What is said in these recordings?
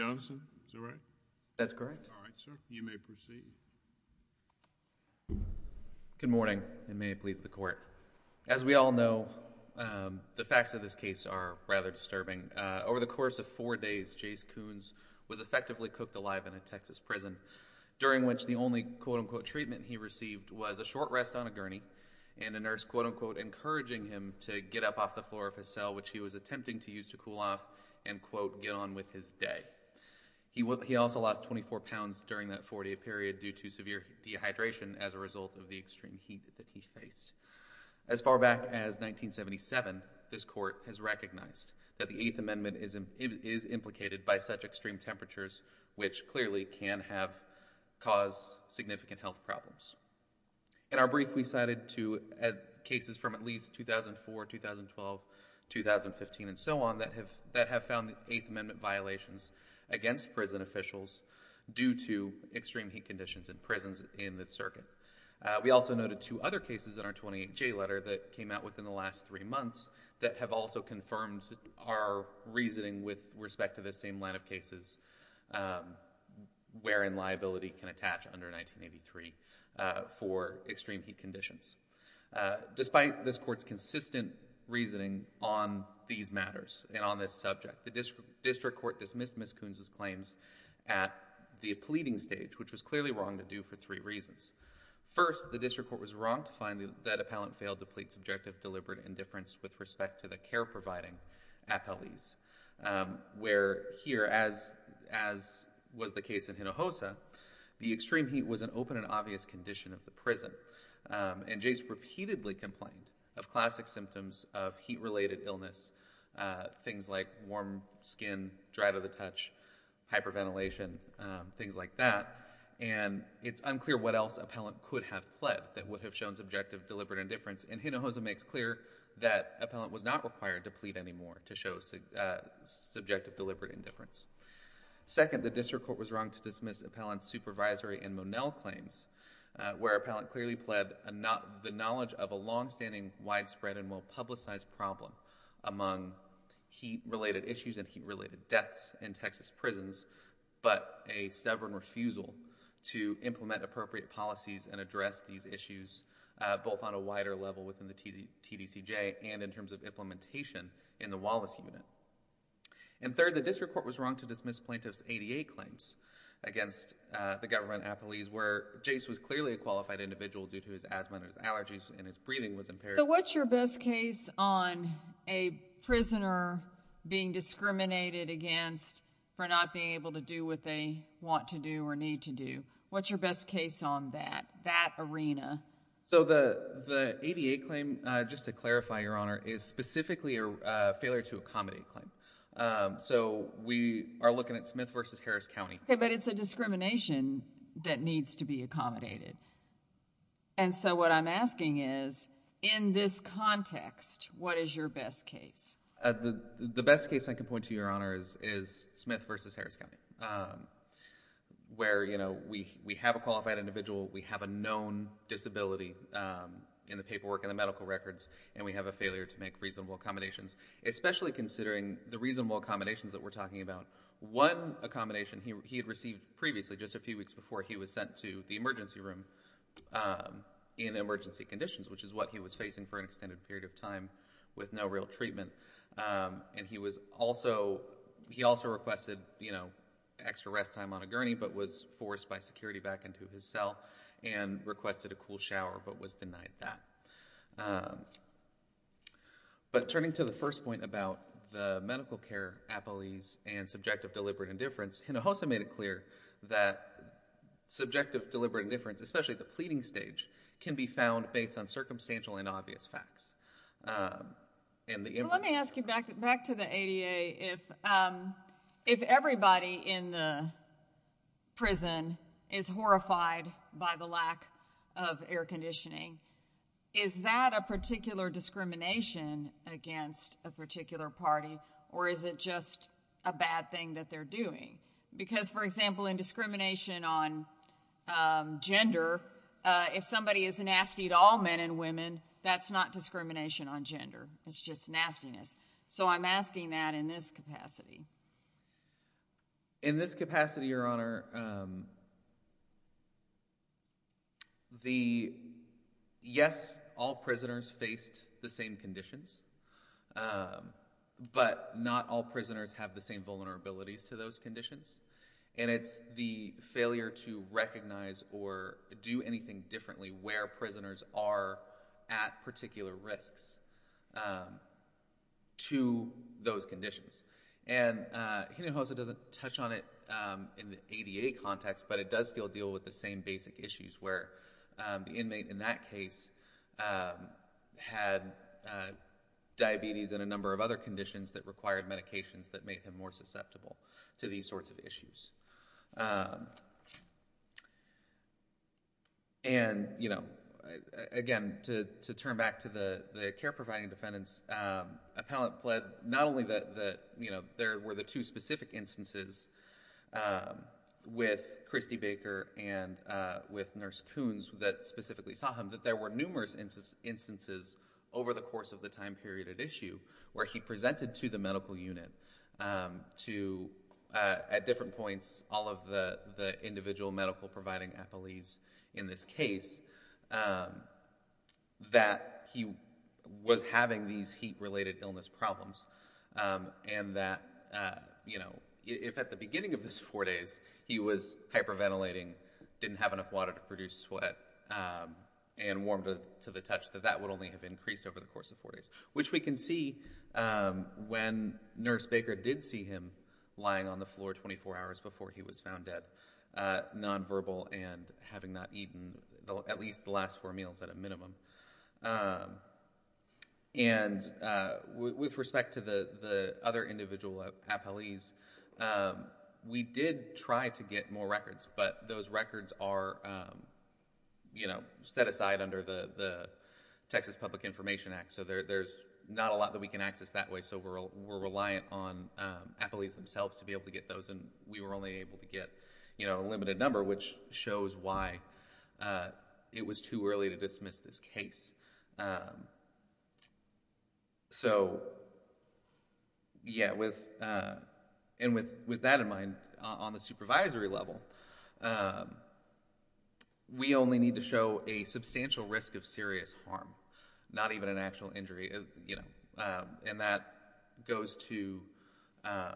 Good morning, and may it please the Court. As we all know, the facts of this case are rather disturbing. Over the course of four days, Jace Coones was effectively cooked alive in a Texas prison, during which the only quote-unquote treatment he received was a short rest on a gurney and a nurse quote-unquote encouraging him to get up off the floor of his cell, which he was attempting to use to cool off and quote, get on with his day. He also lost 24 pounds during that four-day period due to severe dehydration as a result of the extreme heat that he faced. As far back as 1977, this Court has recognized that the Eighth Amendment is implicated by such extreme temperatures, which clearly can cause significant health problems. In our brief, we cited two cases from at least 2004, 2012, 2015, and so on that have found the Eighth Amendment violations against prison officials due to extreme heat conditions in prisons in this circuit. We also noted two other cases in our 28J letter that came out within the last three months that have also confirmed our reasoning with respect to the same line of cases wherein liability can attach under 1983 for extreme heat conditions. Despite this Court's consistent reasoning on these matters and on this subject, the District Court dismissed Ms. Kunz's claims at the pleading stage, which was clearly wrong to do for three reasons. First, the District Court was wrong to find that appellant failed to plead subjective, deliberate indifference with respect to the care-providing appellees, where here, as was the case in Hinojosa, the extreme heat was an open and obvious condition of the prison. And Jace repeatedly complained of classic symptoms of heat-related illness, things like warm skin, dry to the touch, hyperventilation, things like that. And it's unclear what else appellant could have pled that would have shown subjective, deliberate indifference, and Hinojosa makes clear that appellant was not required to plead anymore to show subjective, deliberate indifference. Second, the District Court was wrong to dismiss appellant's supervisory and Monell claims, where appellant clearly pled the knowledge of a longstanding, widespread, and well-publicized problem among heat-related issues and heat-related deaths in Texas prisons, but a stubborn refusal to implement appropriate policies and address these issues, both on a wider level within the TDCJ and in terms of implementation in the Wallace Unit. And third, the District Court was wrong to dismiss plaintiff's ADA claims against the government appellees, where Jace was clearly a qualified individual due to his asthma and his allergies, and his breathing was impaired. So what's your best case on a prisoner being discriminated against for not being able to do what they want to do or need to do? What's your best case on that, that arena? So the ADA claim, just to clarify, Your Honor, is specifically a failure-to-accommodate claim. So we are looking at Smith v. Harris County. Okay, but it's a discrimination that needs to be accommodated. And so what I'm asking is, in this context, what is your best case? The best case I can point to, Your Honor, is Smith v. Harris County, where, you know, we have a qualified individual, we have a known disability in the paperwork and the medical records, and we have a failure to make reasonable accommodations, especially considering the reasonable accommodations that we're talking about. One accommodation he had received previously, just a few weeks before he was sent to the emergency room in emergency conditions, which is what he was facing for an extended period of time with no real treatment. And he was also, he also requested, you know, extra rest time on a gurney, but was forced by security back into his cell and requested a cool shower, but was denied that. But turning to the first point about the medical care appellees and subjective deliberate indifference, Hinojosa made it clear that subjective deliberate indifference, especially the pleading stage, can be found based on circumstantial and obvious facts. Let me ask you, back to the ADA, if everybody in the prison is horrified by the lack of air conditioning, is that a particular discrimination against a particular party, or is it just a bad thing that they're doing? Because for example, in discrimination on gender, if somebody is nasty to all men and women, that's not discrimination on gender, it's just nastiness. So I'm asking that in this capacity. In this capacity, Your Honor, um, the, yes, all prisoners faced the same conditions, um, but not all prisoners have the same vulnerabilities to those conditions. And it's the failure to recognize or do anything differently where prisoners are at particular risks, um, to those conditions. And Hinojosa doesn't touch on it in the ADA context, but it does still deal with the same basic issues where the inmate in that case had diabetes and a number of other conditions that required medications that made him more susceptible to these sorts of issues. Um, and, you know, again, to turn back to the care-providing defendants, um, appellant pled not only that, you know, there were the two specific instances, um, with Christy Baker and, uh, with Nurse Coons that specifically saw him, that there were numerous instances over the course of the time period at issue where he presented to the medical unit, um, to, uh, at different points, all of the, the individual medical-providing appellees in this case, um, that he was having these heat-related illness problems, um, and that, uh, you know, if at the beginning of this four days he was hyperventilating, didn't have enough water to produce sweat, um, and warmed to the touch, that that would only have increased over the course of four days, which we can see, um, when Nurse Baker did see him lying on the floor 24 hours before he was found dead, uh, nonverbal and having not eaten at least the last four meals at a minimum, um, and, uh, with respect to the, the other individual appellees, um, we did try to get more records, but those records are, um, you know, set aside under the, the Texas Public Information Act, so there, there's not a lot that we can access that way, so we're, we're reliant on, um, appellees themselves to be able to get those and we were only able to get, you know, a limited number, which shows why, uh, it was too early to dismiss this case, um, so, yeah, with, uh, and with, with that in mind, on the supervisory level, um, we only need to show a substantial risk of serious harm, not even an actual injury, you know, um, and that goes to, um,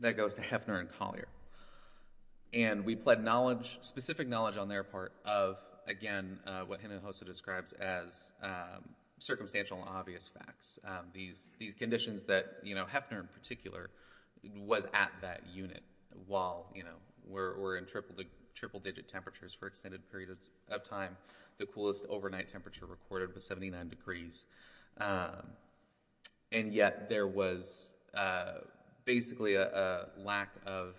that goes to Heffner and Collier, and we pled knowledge, specific knowledge on their part of, again, uh, what Hinojosa describes as, um, circumstantial and obvious facts, um, these, these conditions that, you know, Heffner in particular was at that unit while, you know, we're, we're in triple, triple digit temperatures for extended periods of time, the coolest overnight temperature recorded was 79 degrees, um, and yet there was, uh, basically a, a lack of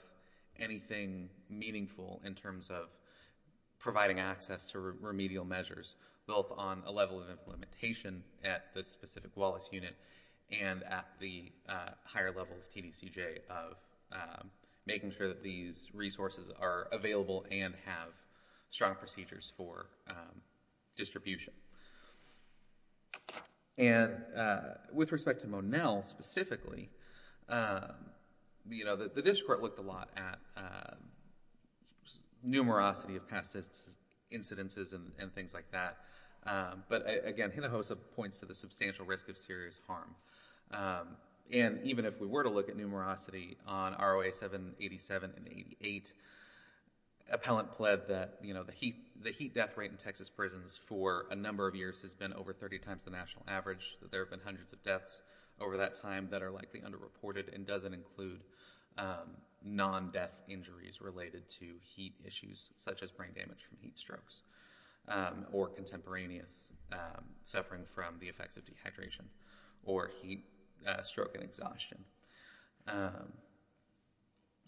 anything meaningful in terms of providing access to remedial measures, both on a level of implementation at the specific Wallace unit and at the, uh, higher level of TDCJ of, um, making sure that these resources are available and have strong procedures for, um, distribution. And, uh, with respect to Monell specifically, um, you know, the, the district court looked a lot at, um, numerosity of past incidences and, and things like that, um, but again, Hinojosa points to the substantial risk of serious harm. Um, and even if we were to look at numerosity on ROA 787 and 88, appellant pled that, you know, the heat, the heat death rate in Texas prisons for a number of years has been over 30 times the national average, that there have been hundreds of deaths over that time that are likely underreported and doesn't include, um, non-death injuries related to heat issues such as brain damage from heat strokes, um, or contemporaneous, um, suffering from the effects of dehydration or heat, uh, stroke and exhaustion. Um,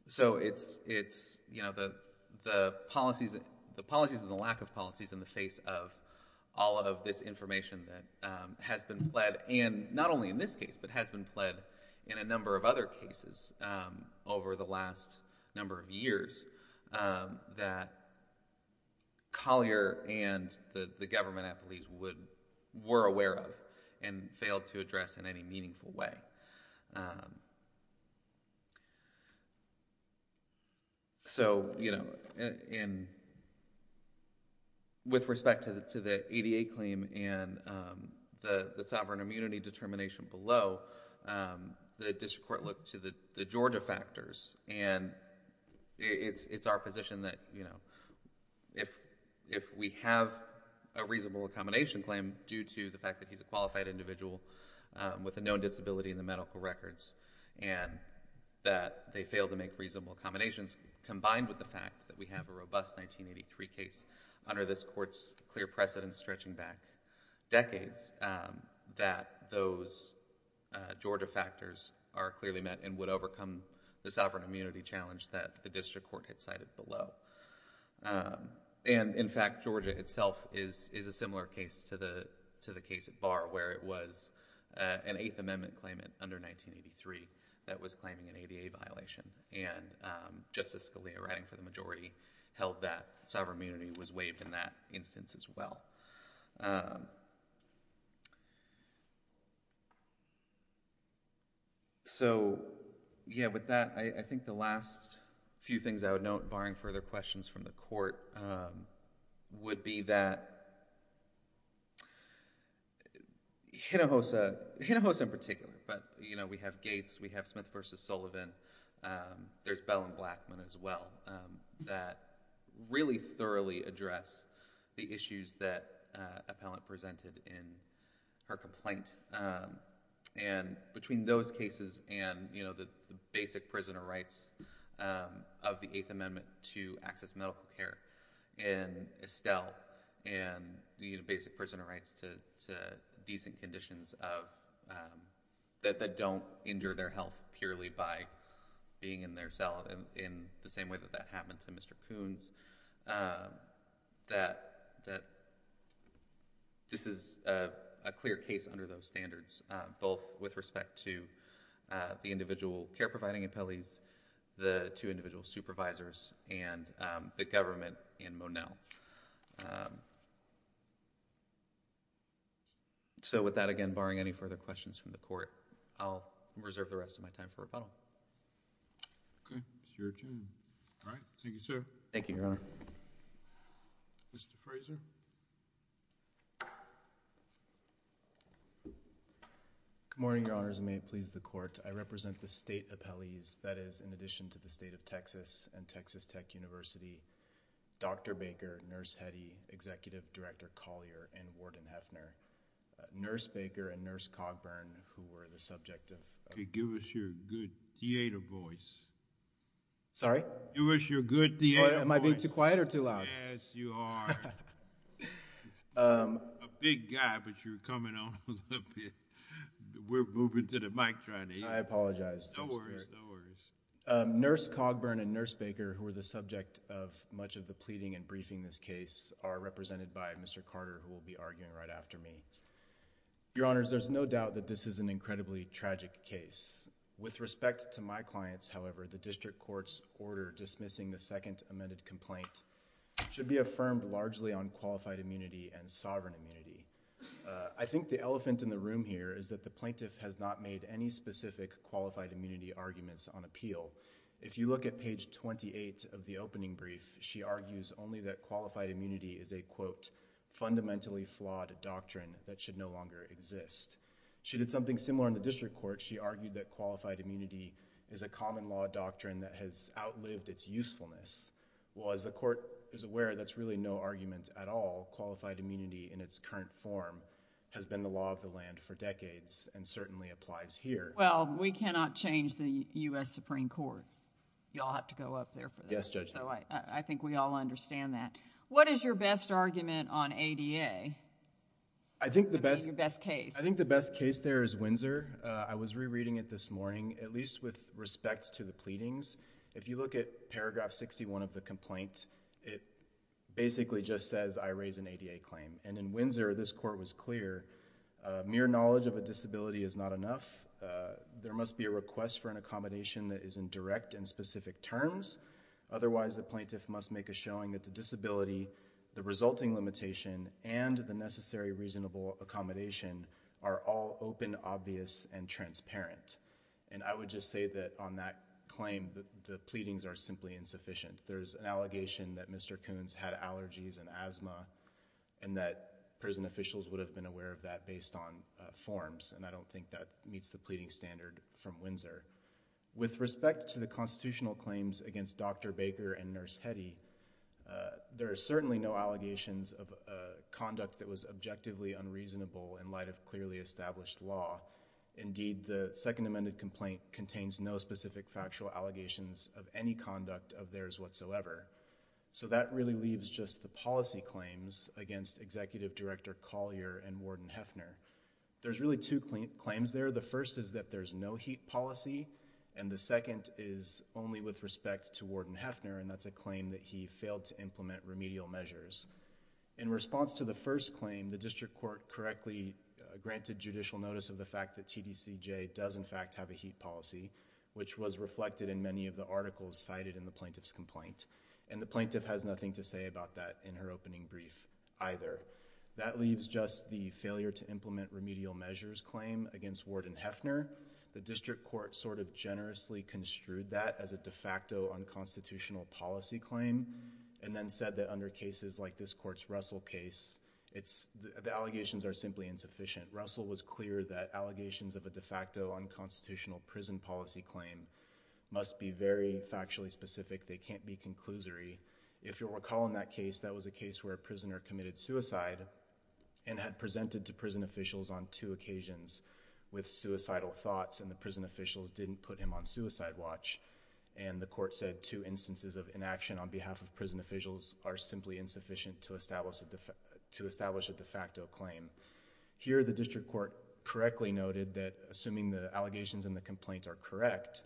so it's, it's, you know, the, the policies, the policies and the lack of policies in the face of all of this information that, um, has been pled and not only in this case, but has been pled in a number of other cases, um, over the last number of years, um, that Collier and the, the government at police would, were aware of and failed to address in any meaningful way. Um, so, you know, and, and with respect to the, to the ADA claim and, um, the, the sovereign immunity determination below, um, the district court looked to the, the Georgia factors and it's, it's our position that, you know, if, if we have a reasonable accommodation claim due to the fact that he's a qualified individual, um, with a known disability in the medical records and that they failed to make reasonable accommodations combined with the fact that we have a robust 1983 case under this court's clear precedent stretching back decades, um, that those, uh, Georgia factors are clearly met and would overcome the sovereign immunity challenge that the district court had cited below. Um, and in fact, Georgia itself is, is a similar case to the, to the case at Barr where it was, uh, an Eighth Amendment claimant under 1983 that was claiming an ADA violation and, um, Justice Collier writing for the majority held that sovereign immunity was waived in that instance as well. Um, so, yeah, with that, I, I think the last few things I would note barring further questions from the court, um, would be that Hinojosa, Hinojosa in particular, but, you know, we have Gates, we have Smith v. Sullivan, um, there's Bell and Blackman as well, um, that really thoroughly address the issues that, uh, appellant presented in her complaint, um, and between those cases and, you know, the basic prisoner rights, um, of the Eighth Amendment to access medical care and Estelle and, you know, basic prisoner rights to, to decent conditions of, um, that, that don't injure their health purely by being in their cell in, in the same way that that happened to Mr. Coons, um, that, that this is, uh, a clear case under those standards, uh, both with respect to, uh, the individual care providing appellees, the two individual supervisors and, um, the government in Monell. Um, so with that, again, barring any further questions from the court, I'll reserve the rest of my time for rebuttal. Okay. It's your turn. All right. Thank you, sir. Thank you, Your Honor. Mr. Fraser. Good morning, Your Honors, and may it please the court. I represent the state appellees, that is, in addition to the state of Texas and Texas Tech University, Dr. Baker, Nurse Cogburn, and Warden Hefner. Nurse Baker and Nurse Cogburn, who were the subject of... Okay. Give us your good theater voice. Sorry? Give us your good theater voice. Am I being too quiet or too loud? Yes, you are. Um... A big guy, but you're coming on a little bit. We're moving to the mic trying to hear you. I apologize. No worries. No worries. Um, Nurse Cogburn and Nurse Baker, who were the subject of much of the pleading and briefing this case, are represented by Mr. Carter, who will be arguing right after me. Your Honors, there's no doubt that this is an incredibly tragic case. With respect to my clients, however, the district court's order dismissing the second amended complaint should be affirmed largely on qualified immunity and sovereign immunity. I think the elephant in the room here is that the plaintiff has not made any specific qualified immunity arguments on appeal. If you look at page twenty-eight of the opening brief, she argues only that qualified immunity is a quote, fundamentally flawed doctrine that should no longer exist. She did something similar in the district court. She argued that qualified immunity is a common law doctrine that has outlived its usefulness. Well, as the court is aware, that's really no argument at all. Qualified immunity in its current form has been the law of the land for decades and certainly applies here. Well, we cannot change the U.S. Supreme Court. You all have to go up there for that. Yes, Judge. I think we all understand that. What is your best argument on ADA? I think the best... Your best case. I think the best case there is Windsor. I was rereading it this morning, at least with respect to the pleadings. If you look at paragraph sixty-one of the complaint, it basically just says I raise an ADA claim. In Windsor, this court was clear. Mere knowledge of a disability is not enough. There must be a request for an accommodation that is in direct and specific terms. Otherwise, the plaintiff must make a showing that the disability, the resulting limitation and the necessary reasonable accommodation are all open, obvious and transparent. I would just say that on that claim, the pleadings are simply insufficient. There's an allegation that Mr. Coons had allergies and asthma and that prison officials would have been aware of that based on forms. I don't think that meets the pleading standard from Windsor. With respect to the constitutional claims against Dr. Baker and Nurse Hetty, there are certainly no allegations of conduct that was objectively unreasonable in light of clearly established law. Indeed, the second amended complaint contains no specific factual allegations of any conduct of theirs whatsoever. That really leaves just the policy claims against Executive Director Collier and Warden Hefner. There's really two claims there. The first is that there's no HEAP policy and the second is only with respect to Warden Hefner and that's a claim that he failed to implement remedial measures. In response to the first claim, the district court correctly granted judicial notice of the fact that TDCJ does in fact have a HEAP policy, which was reflected in many of the articles cited in the plaintiff's complaint and the plaintiff has nothing to say about that in her opening brief either. That leaves just the failure to implement remedial measures claim against Warden Hefner. The district court sort of generously construed that as a de facto unconstitutional policy claim and then said that under cases like this court's Russell case, the allegations are simply insufficient. Russell was clear that allegations of a de facto unconstitutional policy claim must be very factually specific. They can't be conclusory. If you'll recall in that case, that was a case where a prisoner committed suicide and had presented to prison officials on two occasions with suicidal thoughts and the prison officials didn't put him on suicide watch and the court said two instances of inaction on behalf of prison officials are simply insufficient to establish a de facto claim. Here the district court correctly noted that assuming the allegations in the complaint are correct,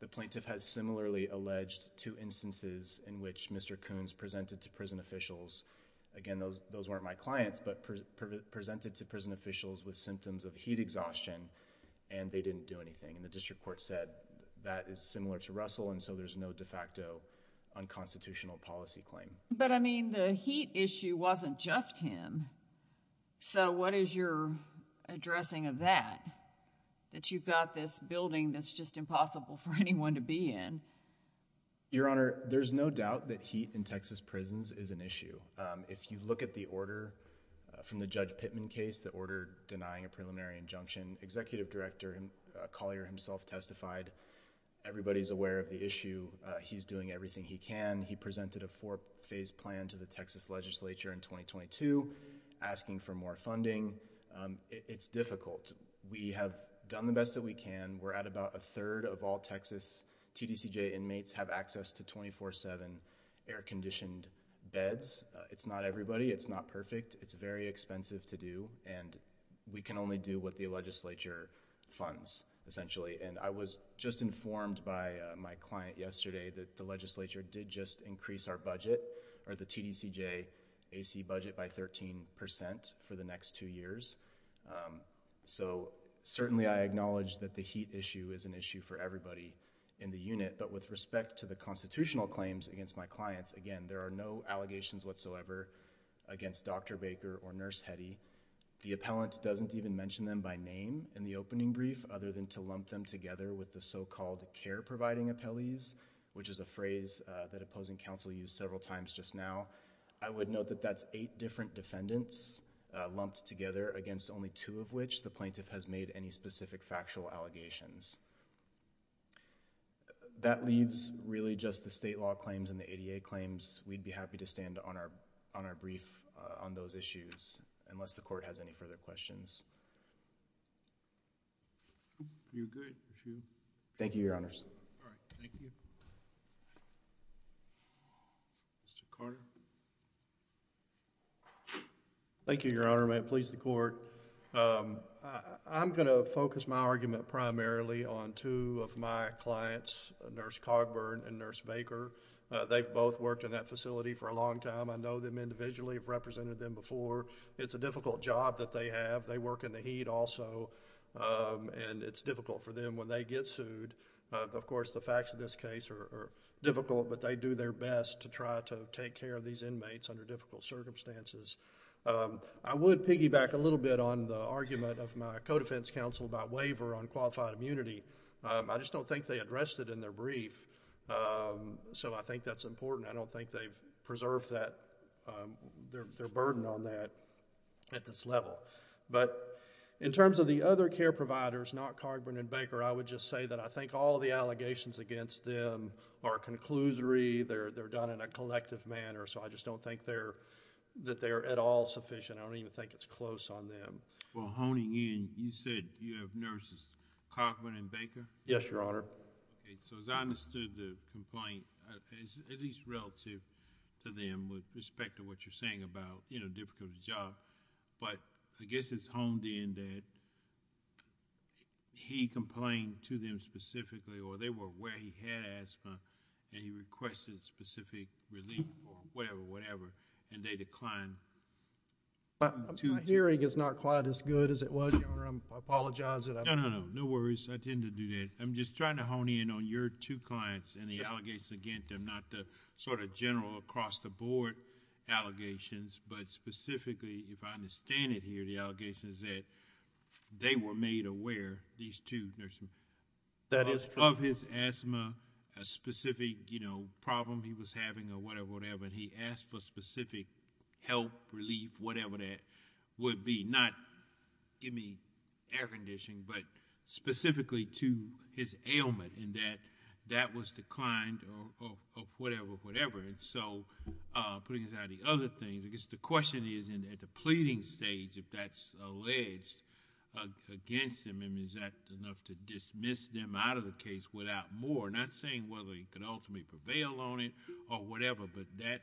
the plaintiff has similarly alleged two instances in which Mr. Coons presented to prison officials, again, those weren't my clients, but presented to prison officials with symptoms of heat exhaustion and they didn't do anything. The district court said that is similar to Russell and so there's no de facto unconstitutional policy claim. But I mean, the heat issue wasn't just him. So what is your addressing of that? That you've got this building that's just impossible for anyone to be in? Your Honor, there's no doubt that heat in Texas prisons is an issue. If you look at the order from the Judge Pittman case, the order denying a preliminary injunction, Executive Director Collier himself testified, everybody's aware of the issue. He's doing everything he can. He presented a four-phase plan to the Texas legislature in 2022 asking for more funding. It's difficult. We have done the best that we can. We're at about a third of all Texas TDCJ inmates have access to 24-7 air-conditioned beds. It's not everybody. It's not perfect. It's very expensive to do and we can only do what the legislature funds essentially. And I was just informed by my client yesterday that the legislature did just increase our budget or the TDCJ AC budget by 13% for the next two years. So certainly I acknowledge that the heat issue is an issue for everybody in the unit. But with respect to the constitutional claims against my clients, again, there are no allegations whatsoever against Dr. Baker or Nurse Hetty. The appellant doesn't even mention them by name in the opening brief other than to lump them together with the so-called care-providing appellees, which is a phrase that opposing counsel used several times just now. I would note that that's eight different defendants lumped together against only two of which the plaintiff has made any specific factual allegations. That leaves really just the state law claims and the ADA claims. We'd be happy to stand on our brief on those issues unless the court has any further questions. You're good. Thank you, Your Honors. All right. Thank you. Mr. Carter. Thank you, Your Honor. May it please the court. I'm going to focus my argument primarily on two of my clients, Nurse Cogburn and Nurse Baker. They've both worked in that facility for a long time. I know them individually. I've represented them before. It's a difficult job that they have. They work in the heat also, and it's difficult for them when they get sued. Of course, the facts of this case are difficult, but they do their best to try to take care of these inmates under difficult circumstances. I would piggyback a little bit on the argument of my co-defense counsel about waiver on qualified immunity. I just don't think they addressed it in their brief, so I think that's important. I don't think they've preserved their burden on that at this level. In terms of the other care providers, not Cogburn and Baker, I would just say that I think all the allegations against them are a conclusory. They're done in a collective manner, so I just don't think that they're at all sufficient. I don't even think it's close on them. Well, honing in, you said you have nurses, Cogburn and Baker? Yes, Your Honor. As I understood the complaint, at least relative to them with respect to what you're saying about difficult job, but I guess it's honed in that he complained to them specifically or they were aware he had asthma, and he requested specific relief or whatever, and they declined... My hearing is not quite as good as it was, Your Honor. I apologize that I... No, no, no. No worries. I tend to do that. I'm just trying to hone in on your two clients and the allegations against them, not the sort of general across-the-board allegations, but specifically, if I understand it here, the allegations that they were made aware, these two nurses... That is true, Your Honor.... of his asthma, a specific problem he was having or whatever, and he asked for specific help, relief, whatever that would be, not give me air conditioning, but specifically to his ailment, and that that was declined or whatever, whatever, and so putting aside the other things, I guess the question is, at the pleading stage, if that's alleged against him, is that enough to dismiss them out of the case without more, not saying whether he could ultimately prevail on it or whatever, but that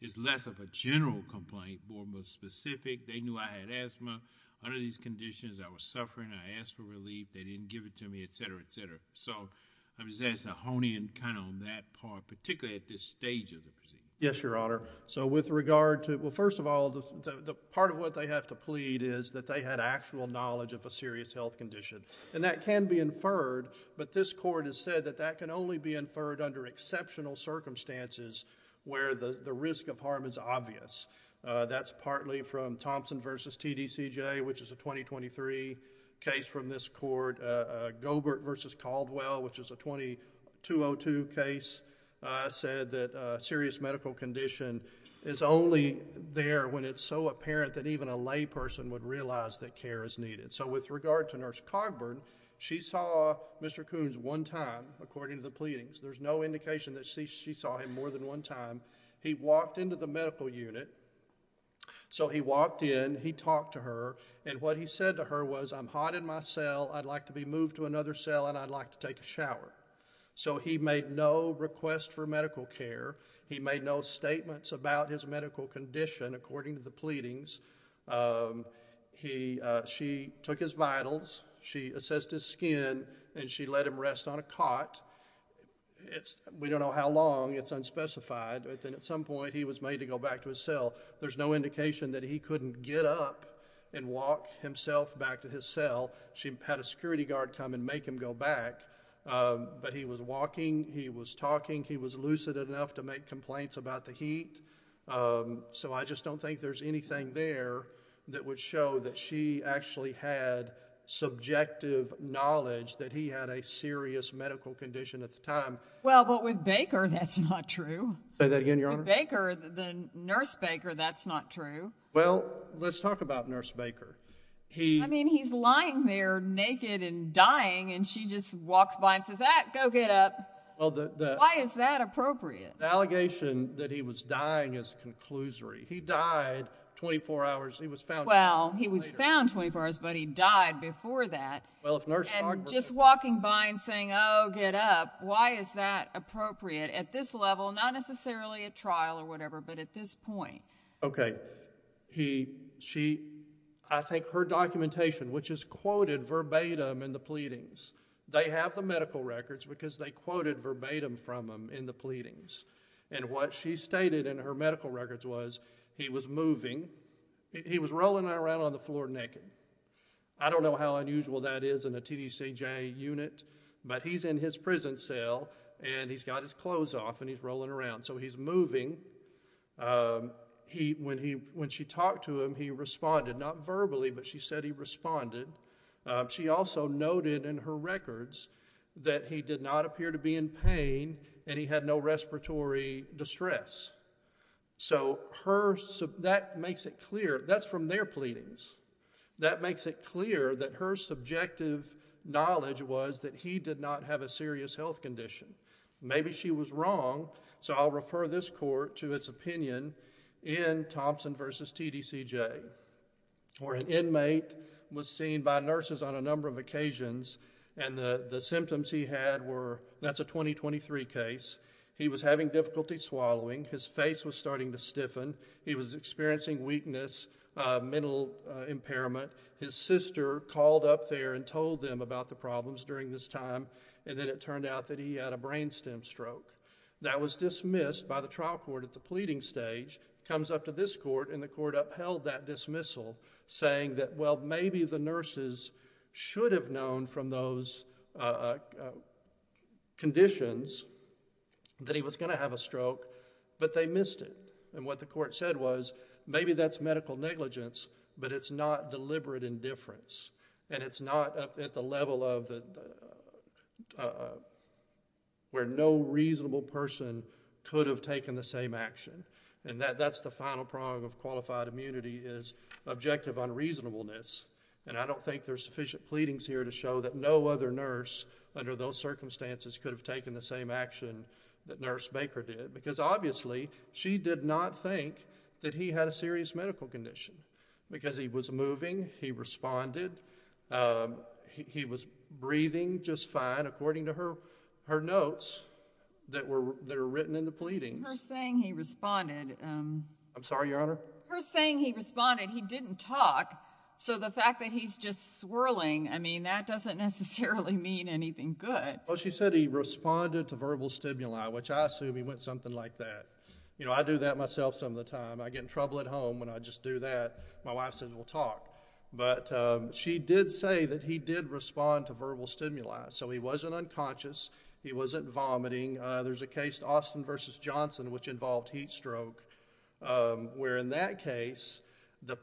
is less of a general complaint, more of a specific, they knew I had asthma, under these conditions, I was suffering, I asked for relief, they didn't give it to me, etc., etc. So, I'm just asking to hone in kind of on that part, particularly at this stage of the proceeding. Yes, Your Honor. So, with regard to... well, first of all, the part of what they have to plead is that they had actual knowledge of a serious health condition, and that can be inferred, but this court has said that that can only be inferred under exceptional circumstances where the risk of harm is obvious. That's partly from Thompson v. TDCJ, which is a 2023 case from this court. Gobert v. Caldwell, which is a 2202 case, said that a serious medical condition is only there when it's so apparent that even a lay person would realize that care is needed. So, with regard to Nurse Cogburn, she saw Mr. Coons one time, according to the pleadings. There's no indication that she saw him more than one time. He walked into the medical unit, so he walked in, he talked to her, and what he said to her was, I'm hot in my cell, I'd like to be moved to another cell, and I'd like to take a shower. So, he made no request for medical care. He made no statements about his medical condition, according to the pleadings. She took his vitals, she assessed his skin, and she let him rest on a cot. We don't know how long, it's unspecified, but then at some point he was made to go back to his cell. There's no indication that he couldn't get up and walk himself back to his cell. She had a security guard come and make him go back, but he was walking, he was talking, he was lucid enough to make complaints about the heat, so I just don't think there's anything there that would show that she actually had subjective knowledge that he had a serious medical condition at the time. Well, but with Baker, that's not true. Say that again, Your Honor? With Baker, the nurse Baker, that's not true. Well, let's talk about nurse Baker. I mean, he's lying there naked and dying, and she just walks by and says, ah, go get up. Why is that appropriate? The allegation that he was dying is a conclusory. He died 24 hours, he was found 24 hours later. Well, he was found 24 hours, but he died before that. And just walking by and saying, oh, get up, why is that appropriate at this level, not necessarily at trial or whatever, but at this point? Okay. She, I think her documentation, which is quoted verbatim in the pleadings, they have the medical records because they quoted verbatim from him in the pleadings. And what she stated in her medical records was he was moving, he was rolling around on the floor naked. I don't know how unusual that is in a TDCJ unit, but he's in his prison cell and he's got his clothes off and he's rolling around, so he's moving. He, when he, when she talked to him, he responded, not verbally, but she said he responded. She also noted in her records that he did not appear to be in pain and he had no respiratory distress. So her, that makes it clear, that's from their pleadings. That makes it clear that her subjective knowledge was that he did not have a serious health condition. Maybe she was wrong, so I'll refer this court to its opinion in Thompson v. TDCJ, where an inmate was seen by nurses on a number of occasions and the symptoms he had were, that's a 2023 case, he was having difficulty swallowing, his face was starting to stiffen, he was experiencing weakness, mental impairment. His sister called up there and told them about the problems during this time and then it turned out that he had a brain stem stroke. That was dismissed by the trial court at the pleading stage. Comes up to this court and the court upheld that dismissal saying that, well, maybe the nurses should have known from those conditions that he was going to have a stroke, but they missed it. And what the court said was, maybe that's medical negligence, but it's not deliberate indifference. And it's not at the level of where no reasonable person could have taken the same action. And that's the final prong of qualified immunity is objective unreasonableness. And I don't think there's sufficient pleadings here to show that no other nurse under those circumstances could have taken the same action that Nurse Baker did. Because obviously, she did not think that he had a serious medical condition. Because he was moving, he responded, he was breathing just fine according to her notes that were written in the pleadings. But her saying he responded... I'm sorry, Your Honor? Her saying he responded, he didn't talk. So the fact that he's just swirling, I mean, that doesn't necessarily mean anything good. Well, she said he responded to verbal stimuli, which I assume he went something like that. You know, I do that myself some of the time. I get in trouble at home when I just do that. My wife says we'll talk. But she did say that he did respond to verbal stimuli. So he wasn't conscious. He wasn't vomiting. There's a case, Austin v. Johnson, which involved heat stroke, where in that case, the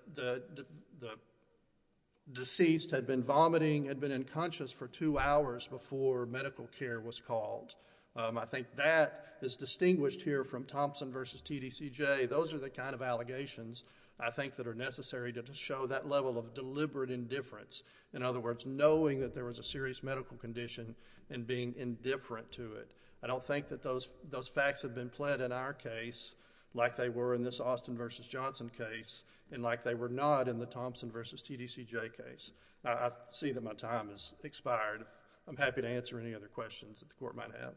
deceased had been vomiting, had been unconscious for two hours before medical care was called. I think that is distinguished here from Thompson v. TDCJ. Those are the kind of allegations, I think, that are necessary to show that level of deliberate indifference. In other words, knowing that there was a serious medical condition and being indifferent to it. I don't think that those facts have been pled in our case like they were in this Austin v. Johnson case and like they were not in the Thompson v. TDCJ case. I see that my time has expired. I'm happy to answer any other questions that the Court might have.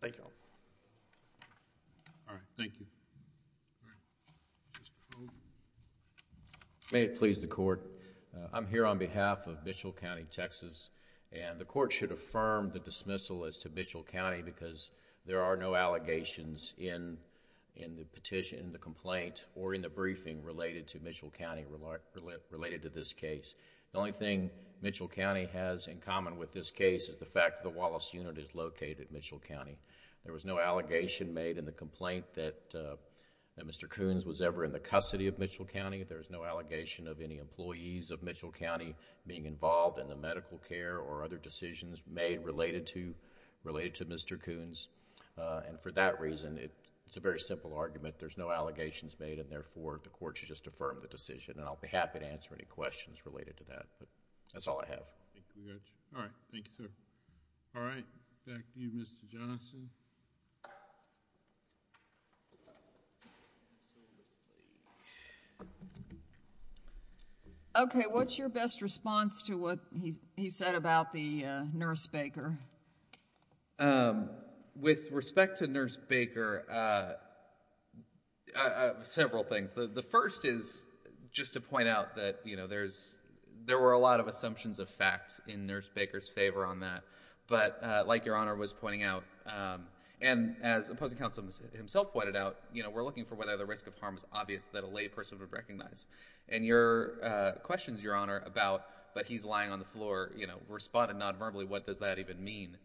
Thank you. All right. Thank you. May it please the Court. I'm here on behalf of Mitchell County, Texas. The Court should affirm the dismissal as to Mitchell County because there are no allegations in the petition, the complaint, or in the briefing related to Mitchell County related to this case. The only thing Mitchell County has in common with this case is the fact that the Wallace Unit is located in Mitchell County. There was no allegation made in the complaint that Mr. Coons was ever in the custody of Mitchell County. There is no allegation of any employees of Mitchell County being involved in the medical care or other decisions made related to Mr. Coons. For that reason, it's a very simple argument. There's no allegations made and therefore the Court should just affirm the decision. I'll be happy to answer any questions related to that. That's all I have. All right. Thank you, sir. All right. Back to you, Mr. Johnson. Okay. What's your best response to what he said about the nurse baker? With respect to nurse baker, several things. The first is just to point out that, you know, there were a lot of assumptions of facts in nurse baker's favor on that. But like Your Honor was pointing out, and as opposing counsel himself pointed out, you know, we're looking for whether the risk of harm is obvious that a lay person would recognize. And your questions, Your Honor, about, but he's lying on the floor, you know, responded non-verbally, what does that even mean?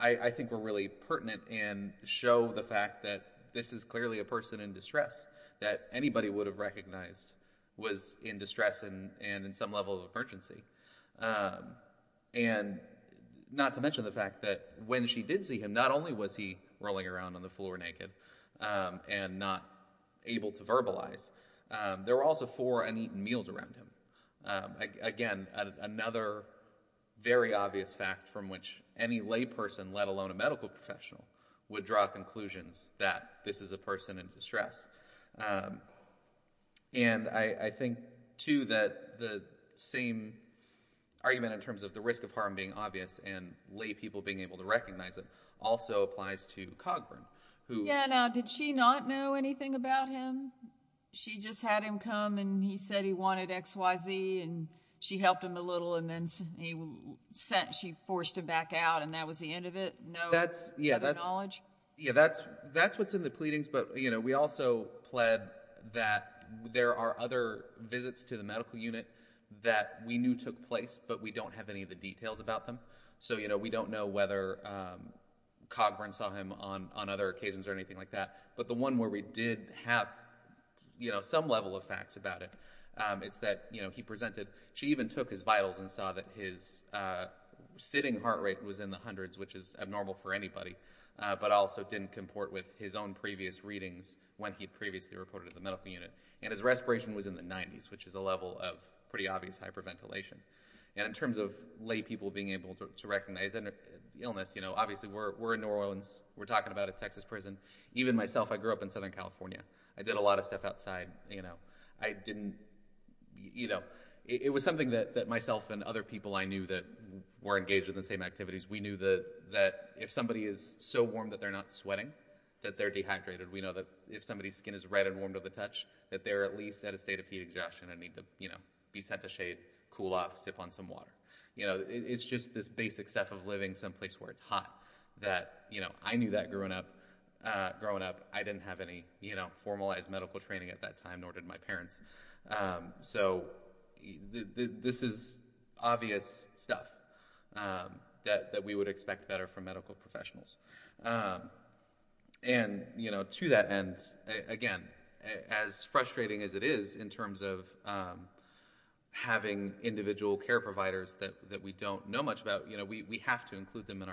I think we're really pertinent and show the fact that this is clearly a person in distress that anybody would have recognized was in distress and in some level of emergency. And not to mention the fact that when she did see him, not only was he rolling around on the floor naked and not able to verbalize, there were also four uneaten meals around him. Again, another very obvious fact from which any lay person, let alone a medical professional, would draw conclusions that this is a person in distress. And I think too that the same argument in terms of the risk of harm being obvious and lay people being able to recognize it also applies to Cogburn, who... Yeah, now, did she not know anything about him? She just had him come and he said he wanted X, Y, Z and she helped him a little and then she forced him back out and that was the end of it? No other knowledge? Yeah, that's what's in the pleadings, but we also pled that there are other visits to the medical unit that we knew took place, but we don't have any of the details about them. So we don't know whether Cogburn saw him on other occasions or anything like that, but the one where we did have some level of facts about it is that he presented, she even said, it was normal for anybody, but also didn't comport with his own previous readings when he'd previously reported to the medical unit. And his respiration was in the 90s, which is a level of pretty obvious hyperventilation. And in terms of lay people being able to recognize an illness, obviously we're in New Orleans, we're talking about a Texas prison. Even myself, I grew up in Southern California. I did a lot of stuff outside. It was something that myself and other people I knew that were engaged in the same activities. We knew that if somebody is so warm that they're not sweating, that they're dehydrated. We know that if somebody's skin is red and warm to the touch, that they're at least at a state of heat exhaustion and need to be set to shade, cool off, sip on some water. It's just this basic stuff of living someplace where it's hot. I knew that growing up. I didn't have any formalized medical training at that time, nor did my parents. So this is obvious stuff that we would expect better from medical professionals. And to that end, again, as frustrating as it is in terms of having individual care providers that we don't know much about, we have to include them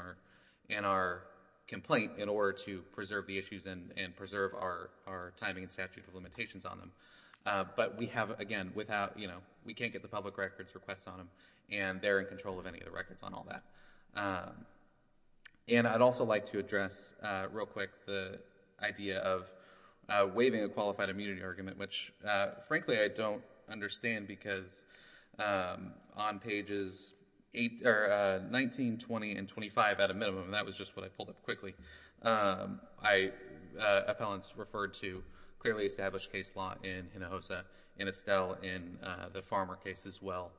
in our complaint in order to preserve the issues and preserve our timing and statute of limitations on them. But we have, again, we can't get the public records requests on them, and they're in control of any of the records on all that. And I'd also like to address real quick the idea of waiving a qualified immunity argument, which frankly I don't understand because on pages 19, 20, and 25 at a minimum, and that clearly established case law in Hinojosa, in Estelle, in the Farmer case as well,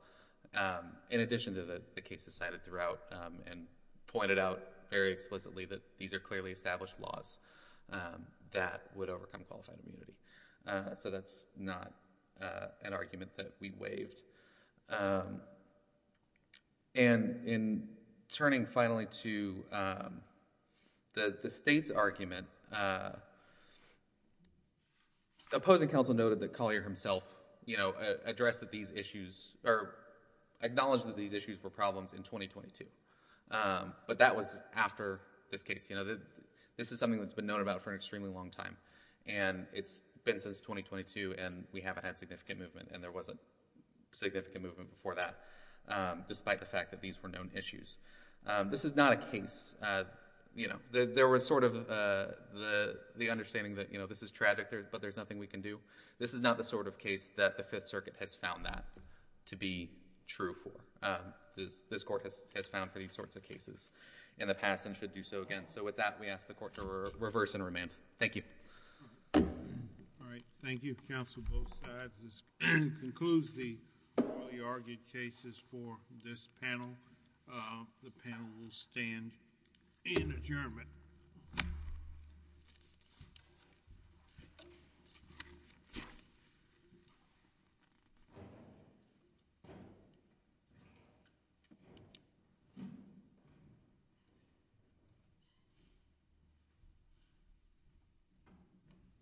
in addition to the cases cited throughout, and pointed out very explicitly that these are clearly established laws that would overcome qualified immunity. So that's not an argument that we waived. And in turning finally to the state's argument, the state's argument is that the state's opposing counsel noted that Collier himself, you know, addressed that these issues, or acknowledged that these issues were problems in 2022. But that was after this case. You know, this is something that's been known about for an extremely long time, and it's been since 2022, and we haven't had significant movement, and there was a significant movement before that, despite the fact that these were known issues. This is not a case, you know, there was sort of the understanding that, you know, this is tragic, but there's nothing we can do. This is not the sort of case that the Fifth Circuit has found that to be true for. This Court has found for these sorts of cases in the past and should do so again. So with that, we ask the Court to reverse and remand. Thank you. All right. Thank you, counsel, both sides. This concludes the early argued cases for this panel. The panel will stand in adjournment.